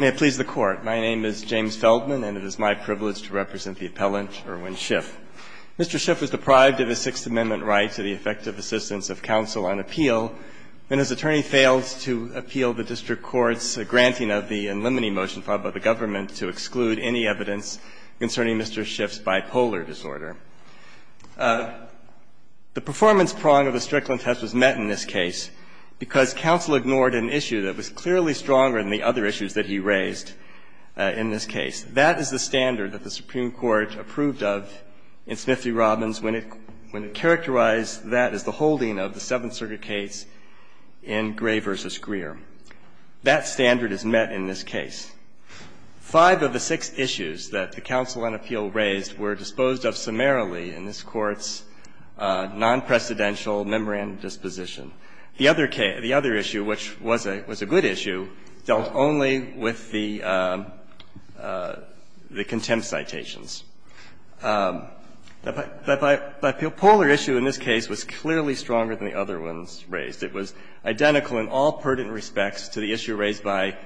May it please the Court. My name is James Feldman, and it is my privilege to represent the appellant, Irwin Schiff. Mr. Schiff was deprived of his Sixth Amendment right to the effective assistance of counsel on appeal, and his attorney failed to appeal the district court's granting of the and limiting motion filed by the government to exclude any evidence concerning Mr. Schiff's bipolar disorder. The performance prong of the Strickland test was met in this case because counsel ignored an issue that was clearly stronger than the other issues that he raised in this case. That is the standard that the Supreme Court approved of in Smith v. Robbins when it characterized that as the holding of the Seventh Circuit case in Gray v. Greer. That standard is met in this case. Five of the six issues that the counsel on appeal raised were disposed of summarily in this Court's non-precedential memorandum disposition. The other issue, which was a good issue, dealt only with the contempt citations. The bipolar issue in this case was clearly stronger than the other ones raised. It was identical in all pertinent respects to the issue raised by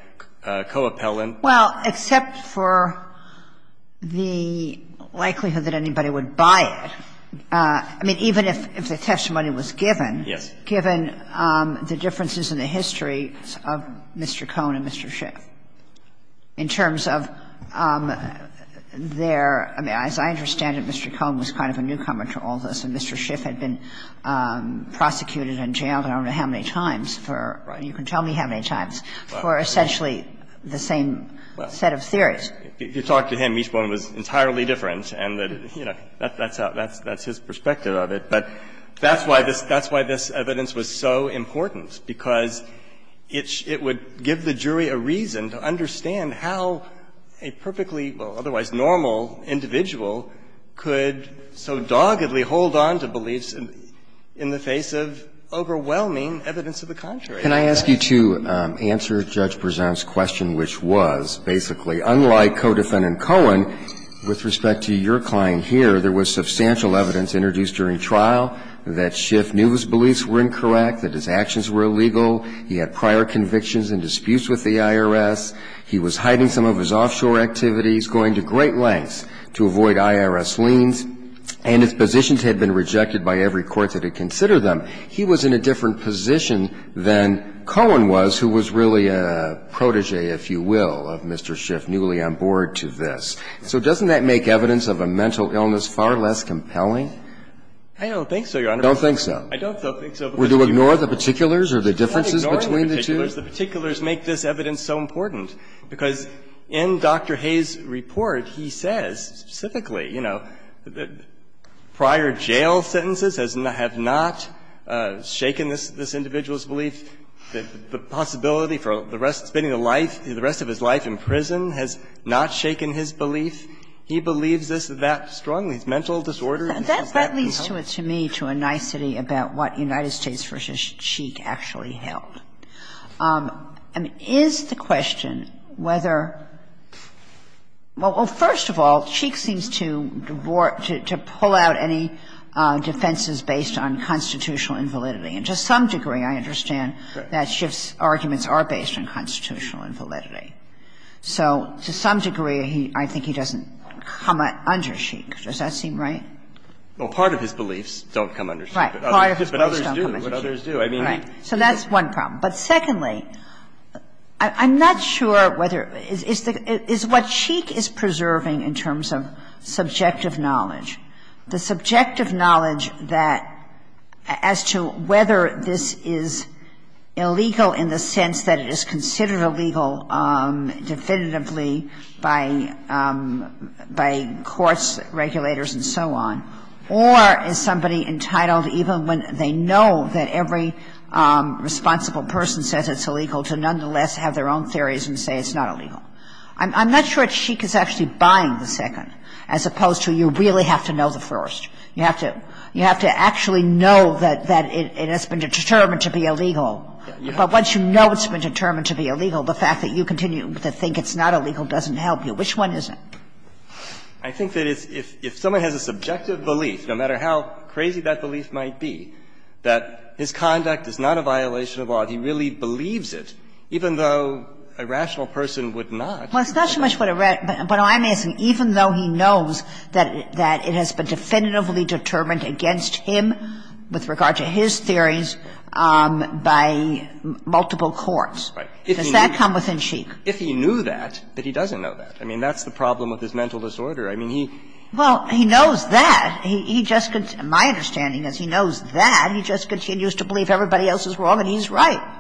Coeppelin. Well, except for the likelihood that anybody would buy it. I mean, even if the testimony was given. Yes. Given the differences in the history of Mr. Cohn and Mr. Schiff, in terms of their – as I understand it, Mr. Cohn was kind of a newcomer to all this, and Mr. Schiff had been prosecuted and jailed I don't know how many times for – you can tell me how many times – for essentially the same set of theories. If you talk to him, each one was entirely different, and, you know, that's his perspective of it. But that's why this evidence was so important, because it would give the jury a reason to understand how a perfectly, well, otherwise normal individual could so doggedly hold on to beliefs in the face of overwhelming evidence of the contrary. Can I ask you to answer Judge Berzant's question, which was, basically, unlike Coeppelin and Cohen, with respect to your client here, there was substantial evidence introduced during trial that Schiff knew his beliefs were incorrect, that his actions were illegal, he had prior convictions and disputes with the IRS, he was hiding some of his offshore activities, going to great lengths to avoid IRS liens, and his positions had been rejected by every court that had considered them. He was in a different position than Cohen was, who was really a protege, if you will, of Mr. Schiff, newly on board to this. So doesn't that make evidence of a mental illness far less compelling? I don't think so, Your Honor. You don't think so? I don't think so. Would you ignore the particulars or the differences between the two? I'm not ignoring the particulars. The particulars make this evidence so important, because in Dr. Hayes' report, he says specifically, you know, prior jail sentences have not shaken this individual's belief, the possibility for the rest of his life, spending the rest of his life in prison has not shaken his belief. He believes this that strongly. It's mental disorder. Has that been held? That leads to a nicety about what United States v. Cheek actually held. I mean, is the question whether – well, first of all, Cheek seems to pull out any defenses based on constitutional invalidity, and to some degree, I understand that Schiff's arguments are based on constitutional invalidity. So to some degree, I think he doesn't come under Cheek. Does that seem right? Well, part of his beliefs don't come under Cheek. Part of his beliefs don't come under Cheek. But others do. But others do. I mean – Right. So that's one problem. But secondly, I'm not sure whether – is what Cheek is preserving in terms of subjective knowledge, the subjective knowledge that as to whether this is illegal in the sense that it is considered illegal definitively by courts, regulators, and so on, or is somebody entitled, even when they know that every responsible person says it's illegal, to nonetheless have their own theories and say it's not illegal. I'm not sure Cheek is actually buying the second, as opposed to you really have to know the first. You have to – you have to actually know that it has been determined to be illegal. But once you know it's been determined to be illegal, the fact that you continue to think it's not illegal doesn't help you. Which one is it? I think that it's – if someone has a subjective belief, no matter how crazy that belief might be, that his conduct is not a violation of law, he really believes it, even though a rational person would not. Well, it's not so much what a – but I'm asking, even though he knows that it has been definitively determined against him with regard to his theories by multiple courts, does that come within Cheek? If he knew that, but he doesn't know that. I mean, that's the problem with his mental disorder. I mean, he – Well, he knows that. He just – my understanding is he knows that. He just continues to believe everybody else is wrong, and he's right.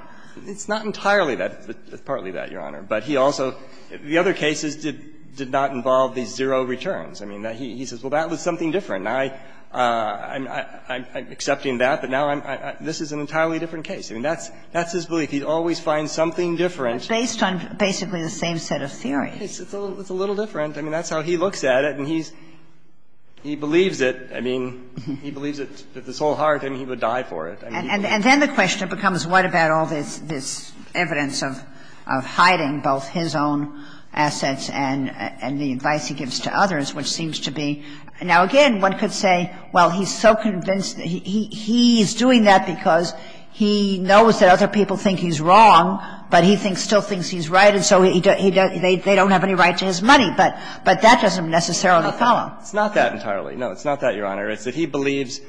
It's not entirely that, but it's partly that, Your Honor. But he also – the other cases did not involve the zero returns. I mean, he says, well, that was something different. Now, I'm accepting that, but now I'm – this is an entirely different case. I mean, that's his belief. He always finds something different. But based on basically the same set of theories. It's a little different. I mean, that's how he looks at it, and he's – he believes it. I mean, he believes it with his whole heart, and he would die for it. And then the question becomes, what about all this evidence of hiding both his own assets and the advice he gives to others, which seems to be – now, again, one could say, well, he's so convinced – he's doing that because he knows that other people think he's wrong, but he still thinks he's right, and so they don't have any right to his money. But that doesn't necessarily follow. It's not that entirely. No, it's not that, Your Honor. It's that he believes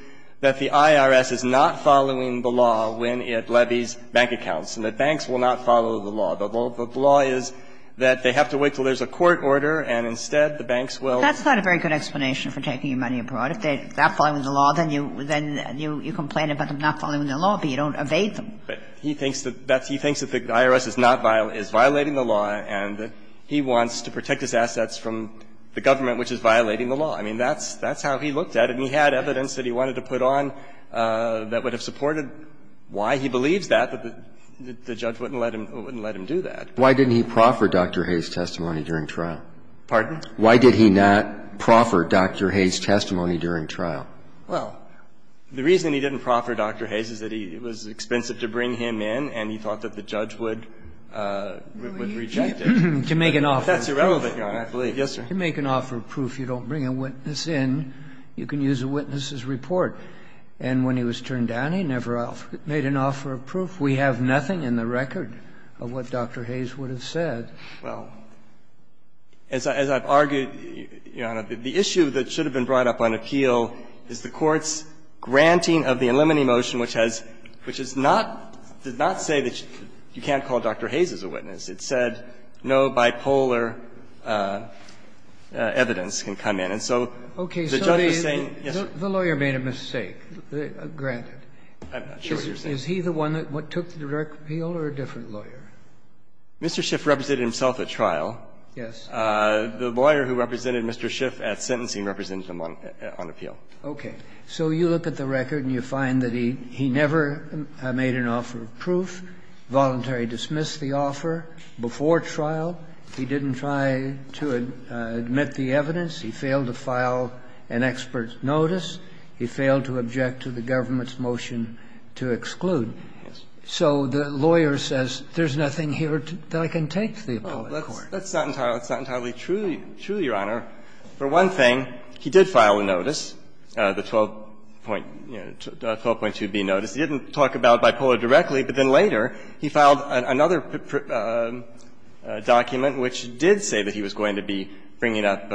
that the IRS is not following the law when it levies bank accounts, and that banks will not follow the law. The law is that they have to wait until there's a court order, and instead, the banks will – But that's not a very good explanation for taking your money abroad. If they're not following the law, then you – then you complain about them not following the law, but you don't evade them. But he thinks that that's – he thinks that the IRS is not – is violating the law, and he wants to protect his assets from the government, which is violating the law. I mean, that's – that's how he looked at it, and he had evidence that he wanted to put on that would have supported why he believes that, but the judge wouldn't let him – wouldn't let him do that. Why didn't he proffer Dr. Hayes' testimony during trial? Pardon? Why did he not proffer Dr. Hayes' testimony during trial? Well, the reason he didn't proffer Dr. Hayes is that he – it was expensive to bring him in, and he thought that the judge would – would reject it. To make an offer of proof. That's irrelevant, Your Honor, I believe. Yes, sir. To make an offer of proof, you don't bring a witness in. You can use a witness's report. And when he was turned down, he never made an offer of proof. We have nothing in the record of what Dr. Hayes would have said. Well, as I've argued, Your Honor, the issue that should have been brought up on appeal is the Court's granting of the Alimony motion, which has – which is not – did not say that you can't call Dr. Hayes as a witness. It said no bipolar evidence can come in. And so the judge was saying, yes, sir. Okay. So the lawyer made a mistake, granted. I'm not sure what you're saying. Is he the one that took the direct appeal, or a different lawyer? Mr. Schiff represented himself at trial. Yes. The lawyer who represented Mr. Schiff at sentencing represented him on appeal. Okay. So you look at the record and you find that he never made an offer of proof, voluntary dismissed the offer before trial. He didn't try to admit the evidence. He failed to file an expert's notice. He failed to object to the government's motion to exclude. So the lawyer says there's nothing here that I can take to the appellate court. That's not entirely true, Your Honor. For one thing, he did file a notice, the 12.2b notice. He didn't talk about bipolar directly, but then later he filed another document which did say that he was going to be bringing up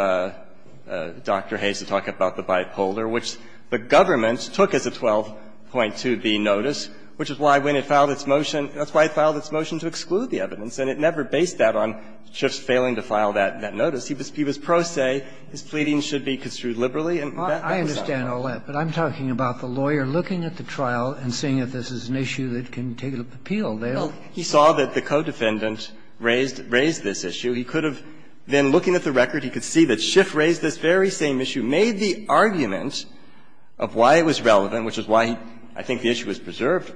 Dr. Hayes to talk about the bipolar, which the government took as a 12.2b notice, which is why, when it filed its motion, that's why it filed its motion to exclude the evidence, and it never based that on Schiff's failing to file that notice. He was pro se, his pleadings should be construed liberally, and that was not true. I understand all that, but I'm talking about the lawyer looking at the trial and seeing if this is an issue that can take an appeal. Well, he saw that the co-defendant raised this issue. He could have then, looking at the record, he could see that Schiff raised this very same issue. He made the argument of why it was relevant, which is why I think the issue was preserved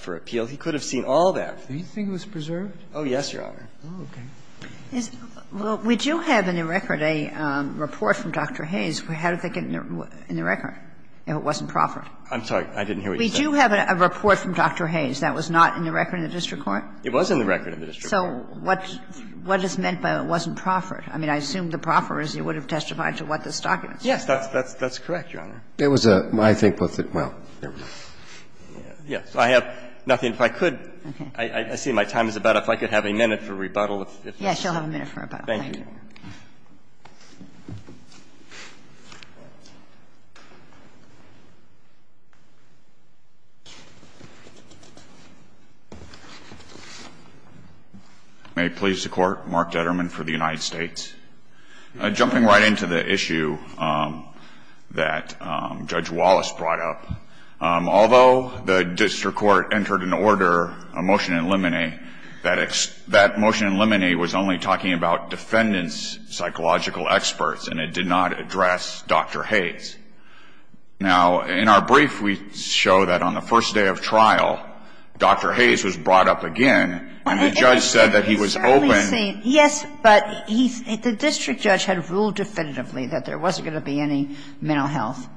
for appeal. He could have seen all that. Do you think it was preserved? Oh, yes, Your Honor. Oh, okay. Well, would you have in the record a report from Dr. Hayes? How did they get it in the record if it wasn't proffered? I'm sorry. I didn't hear what you said. Would you have a report from Dr. Hayes that was not in the record in the district court? It was in the record in the district court. So what is meant by it wasn't proffered? I mean, I assume the proffer is he would have testified to what this document says. Yes, that's correct, Your Honor. It was a, I think, well, there we go. Yes. I have nothing. If I could, I see my time is about up. If I could have a minute for rebuttal. Yes, you'll have a minute for rebuttal. Thank you. May it please the Court, Mark Detterman for the United States. Jumping right into the issue that Judge Wallace brought up, although the district court entered an order, a motion in limine, that motion in limine was only talking about defendant's psychological experts and it did not address Dr. Hayes. Now, in our brief, we show that on the first day of trial, Dr. Hayes was brought up again and the judge said that he was open. I mean, yes, but he, the district judge had ruled definitively that there wasn't going to be any mental health.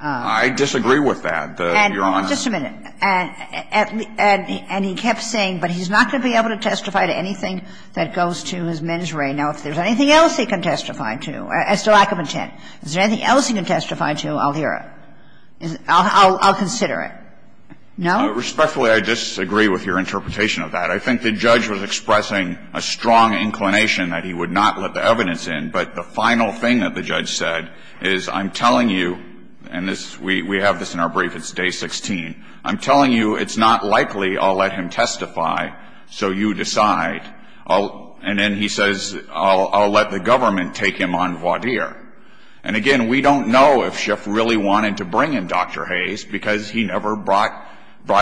I disagree with that, Your Honor. And just a minute. And he kept saying, but he's not going to be able to testify to anything that goes to his mens re. Now, if there's anything else he can testify to as to lack of intent, is there anything else he can testify to, I'll hear it. I'll consider it. No? Respectfully, I disagree with your interpretation of that. I think the judge was expressing a strong inclination that he would not let the evidence in. But the final thing that the judge said is, I'm telling you, and this, we have this in our brief, it's day 16, I'm telling you it's not likely I'll let him testify, so you decide. And then he says, I'll let the government take him on voir dire. And again, we don't know if Schiff really wanted to bring in Dr. Hayes because he never brought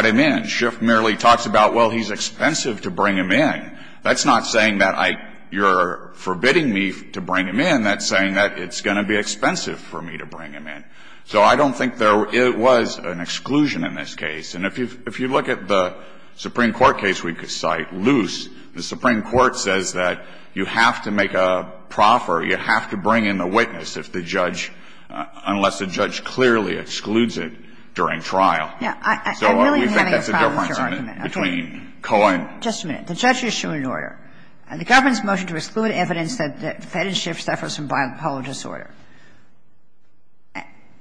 him in. And Schiff merely talks about, well, he's expensive to bring him in. That's not saying that I you're forbidding me to bring him in. That's saying that it's going to be expensive for me to bring him in. So I don't think there was an exclusion in this case. And if you look at the Supreme Court case we cite, Luce, the Supreme Court says that you have to make a proffer, you have to bring in the witness if the judge, unless the judge clearly excludes it during trial. So we think that's a difference between Cohen. Kagan. Just a minute. The judge issued an order. The government's motion to exclude evidence that defendant Schiff suffers from bipolar disorder.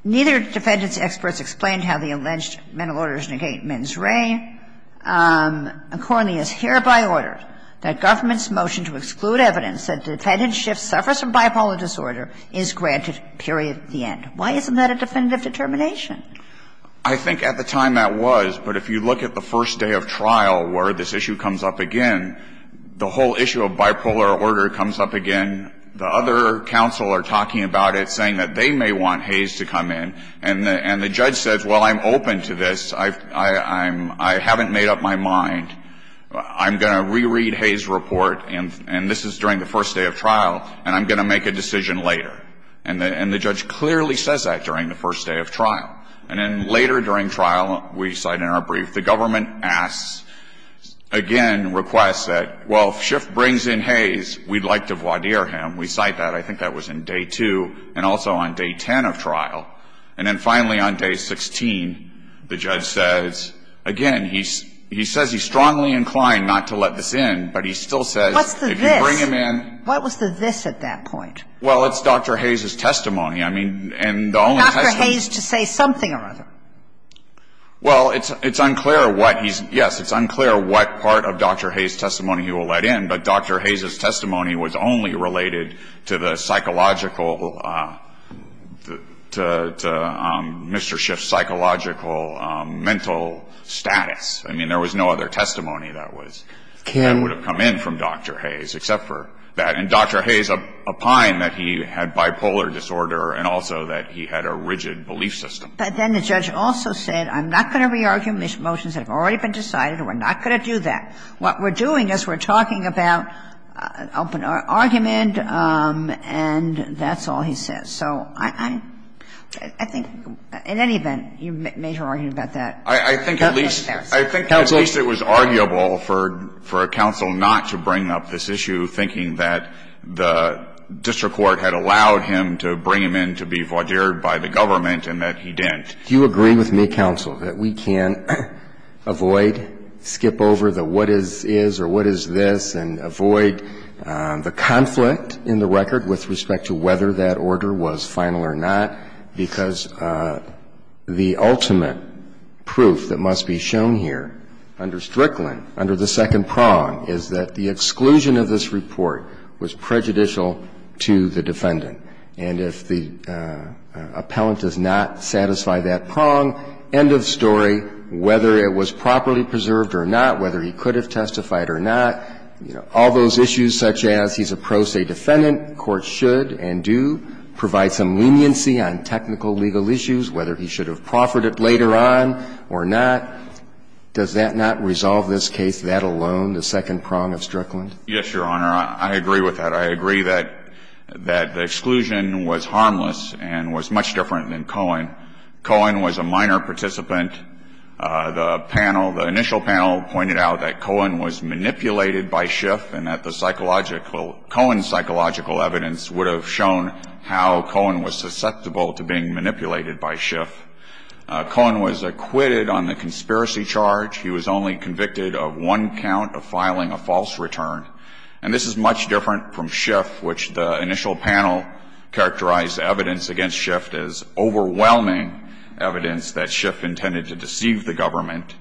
Neither defendant's experts explained how the alleged mental orders negate men's reign. Accordingly, it is hereby ordered that government's motion to exclude evidence that defendant Schiff suffers from bipolar disorder is granted, period, the end. Why isn't that a definitive determination? I think at the time that was, but if you look at the first day of trial where this issue comes up again, the whole issue of bipolar order comes up again. The other counsel are talking about it, saying that they may want Hayes to come in. And the judge says, well, I'm open to this. I haven't made up my mind. I'm going to reread Hayes' report, and this is during the first day of trial, and I'm going to make a decision later. And the judge clearly says that during the first day of trial. And then later during trial, we cite in our brief, the government asks, again, requests that, well, if Schiff brings in Hayes, we'd like to voir dire him. We cite that. I think that was in day 2 and also on day 10 of trial. And then finally on day 16, the judge says, again, he says he's strongly inclined not to let this in, but he still says if you bring him in. What's the this? What was the this at that point? Well, it's Dr. Hayes' testimony. Nothing or other. Well, it's unclear what he's, yes, it's unclear what part of Dr. Hayes' testimony he will let in, but Dr. Hayes' testimony was only related to the psychological, to Mr. Schiff's psychological mental status. I mean, there was no other testimony that was, that would have come in from Dr. Hayes except for that. And Dr. Hayes opined that he had bipolar disorder and also that he had a rigid belief system. But then the judge also said, I'm not going to re-argue motions that have already been decided, and we're not going to do that. What we're doing is we're talking about an open argument, and that's all he says. So I think in any event, you made your argument about that. I think at least, I think at least it was arguable for a counsel not to bring up this issue, thinking that the district court had allowed him to bring him in to be voir ment, and that he didn't. Do you agree with me, counsel, that we can avoid, skip over the what is, is, or what is this, and avoid the conflict in the record with respect to whether that order was final or not, because the ultimate proof that must be shown here under Strickland, under the second prong, is that the exclusion of this report was prejudicial to the defendant. And if the appellant does not satisfy that prong, end of story, whether it was properly preserved or not, whether he could have testified or not, you know, all those issues such as he's a pro se defendant, the Court should and do provide some leniency on technical legal issues, whether he should have proffered it later on or not. Does that not resolve this case, that alone, the second prong of Strickland? Yes, Your Honor. I agree with that. I agree that, that the exclusion was harmless and was much different than Cohen. Cohen was a minor participant. The panel, the initial panel pointed out that Cohen was manipulated by Schiff and that the psychological, Cohen's psychological evidence would have shown how Cohen was susceptible to being manipulated by Schiff. Cohen was acquitted on the conspiracy charge. He was only convicted of one count of filing a false return. And this is much different from Schiff, which the initial panel characterized evidence against Schiff as overwhelming evidence that Schiff intended to deceive the government.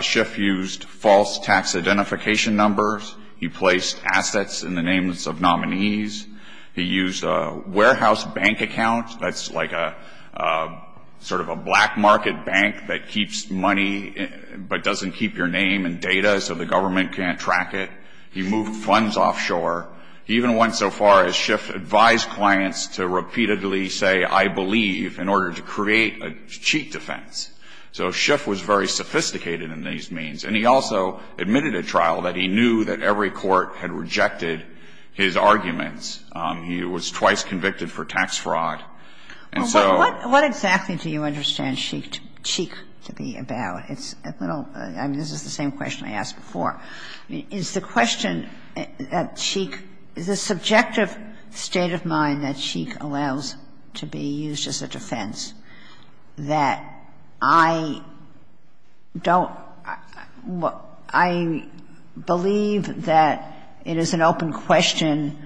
Schiff used false tax identification numbers. He placed assets in the names of nominees. He used a warehouse bank account. That's like a sort of a black market bank that keeps money but doesn't keep your name and data so the government can't track it. He moved funds offshore. He even went so far as Schiff advised clients to repeatedly say, I believe, in order to create a cheat defense. So Schiff was very sophisticated in these means. And he also admitted at trial that he knew that every court had rejected his arguments. He was twice convicted for tax fraud. And so he was convicted of fraud. And so he was convicted of fraud. What exactly do you understand cheat to be about? It's a little, I mean, this is the same question I asked before. Is the question that Cheek, the subjective state of mind that Cheek allows to be used as a defense that I don't, I believe that it is an open question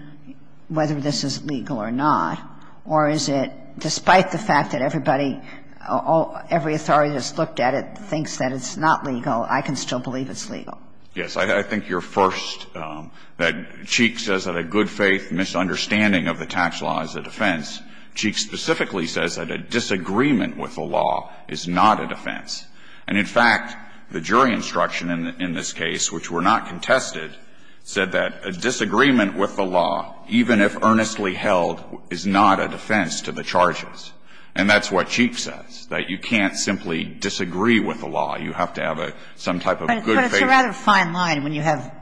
whether this is legal or not, or is it, despite the fact that everybody, every authority that's looked at it thinks that it's not legal, I can still believe it's legal? Yes. I think you're first that Cheek says that a good faith misunderstanding of the tax law is a defense. Cheek specifically says that a disagreement with the law is not a defense. And in fact, the jury instruction in this case, which were not contested, said that a disagreement with the law, even if earnestly held, is not a defense to the charges. And that's what Cheek says, that you can't simply disagree with the law. You have to have some type of good faith. It's a rather fine line when you have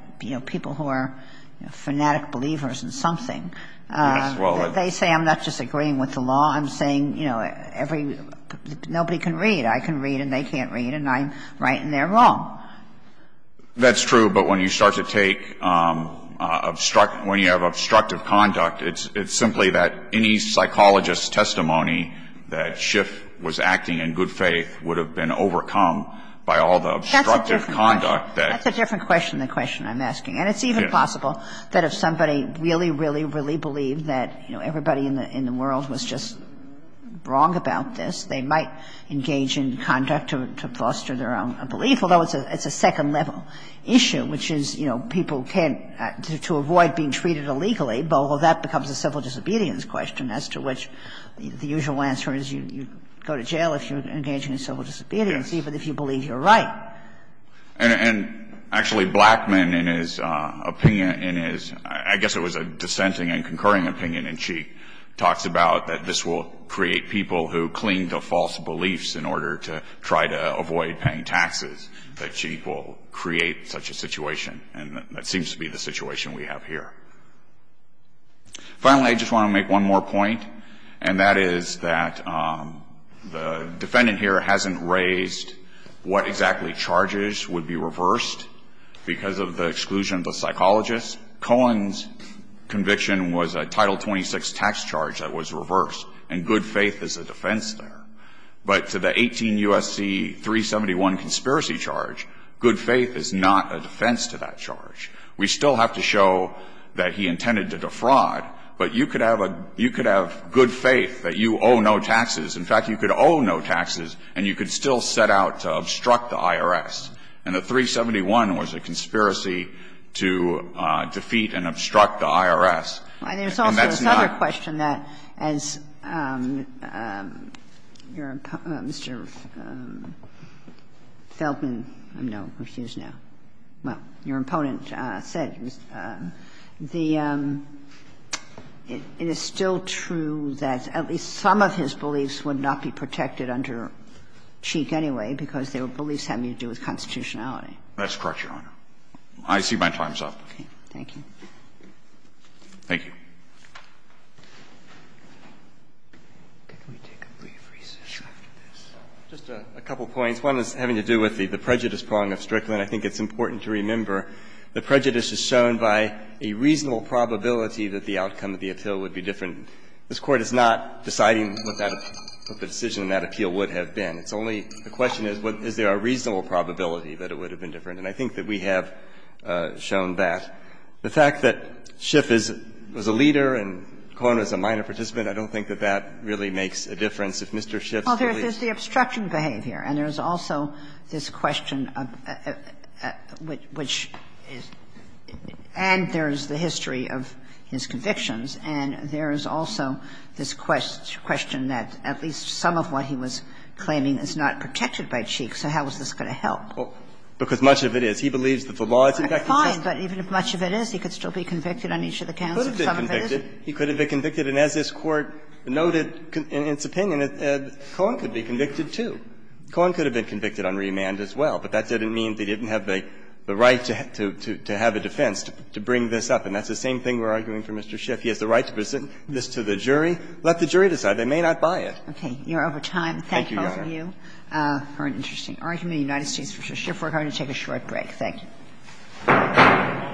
people who are fanatic believers in something. Yes, well. They say, I'm not disagreeing with the law, I'm saying, you know, nobody can read. I can read and they can't read, and I'm right and they're wrong. That's true, but when you start to take, when you have obstructive conduct, it's simply that any psychologist's testimony that Schiff was acting in good faith would have been overcome by all the obstructive conduct that. That's a different question than the question I'm asking. And it's even possible that if somebody really, really, really believed that, you know, everybody in the world was just wrong about this, they might engage in conduct to foster their own belief, although it's a second-level issue, which is, you know, people can't, to avoid being treated illegally, well, that becomes a civil disobedience question as to which the usual answer is you go to jail if you're engaging in civil disobedience even if you believe you're right. And actually, Blackmun, in his opinion, in his, I guess it was a dissenting and concurring opinion in Cheek, talks about that this will create people who cling to false beliefs in order to try to avoid paying taxes. That Cheek will create such a situation, and that seems to be the situation we have here. Finally, I just want to make one more point, and that is that the defendant here hasn't raised what exactly charges would be reversed because of the exclusion of the psychologist. Cohen's conviction was a Title 26 tax charge that was reversed, and good faith is a defense there. But to the 18 U.S.C. 371 conspiracy charge, good faith is not a defense to that charge. We still have to show that he intended to defraud, but you could have a good faith that you owe no taxes. In fact, you could owe no taxes, and you could still set out to obstruct the IRS. And the 371 was a conspiracy to defeat and obstruct the IRS, and that's not. And there's also this other question that, as your Mr. Feldman, no, refused now, well, your opponent said, the – it is still true that at least some of his beliefs would not be protected under Cheek anyway because their beliefs had to do with constitutionality. That's correct, Your Honor. I see my time's up. Okay. Thank you. Thank you. Can we take a brief recess after this? Just a couple points. One is having to do with the prejudice prong of Strickland. I think it's important to remember the prejudice is shown by a reasonable probability that the outcome of the appeal would be different. And this Court is not deciding what that – what the decision in that appeal would have been. It's only the question is, is there a reasonable probability that it would have been different? And I think that we have shown that. The fact that Schiff is – was a leader and Cohen was a minor participant, I don't think that that really makes a difference. If Mr. Schiff's belief – Well, there's the obstruction behavior, and there's also this question of – which is – and there's the history of his convictions, and there's also this question that at least some of what he was claiming is not protected by Cheek, so how is this going to help? Well, because much of it is. He believes that the law is effective justice. Fine, but even if much of it is, he could still be convicted on each of the counts if some of it isn't. He could have been convicted, and as this Court noted in its opinion, Cohen could be convicted, too. Cohen could have been convicted on remand as well, but that didn't mean they didn't have the right to have a defense to bring this up. And that's the same thing we're arguing for Mr. Schiff. He has the right to present this to the jury. Let the jury decide. They may not buy it. Okay. You're over time. Thank both of you for an interesting argument. The United States v. Schiff. We're going to take a short break. Thank you.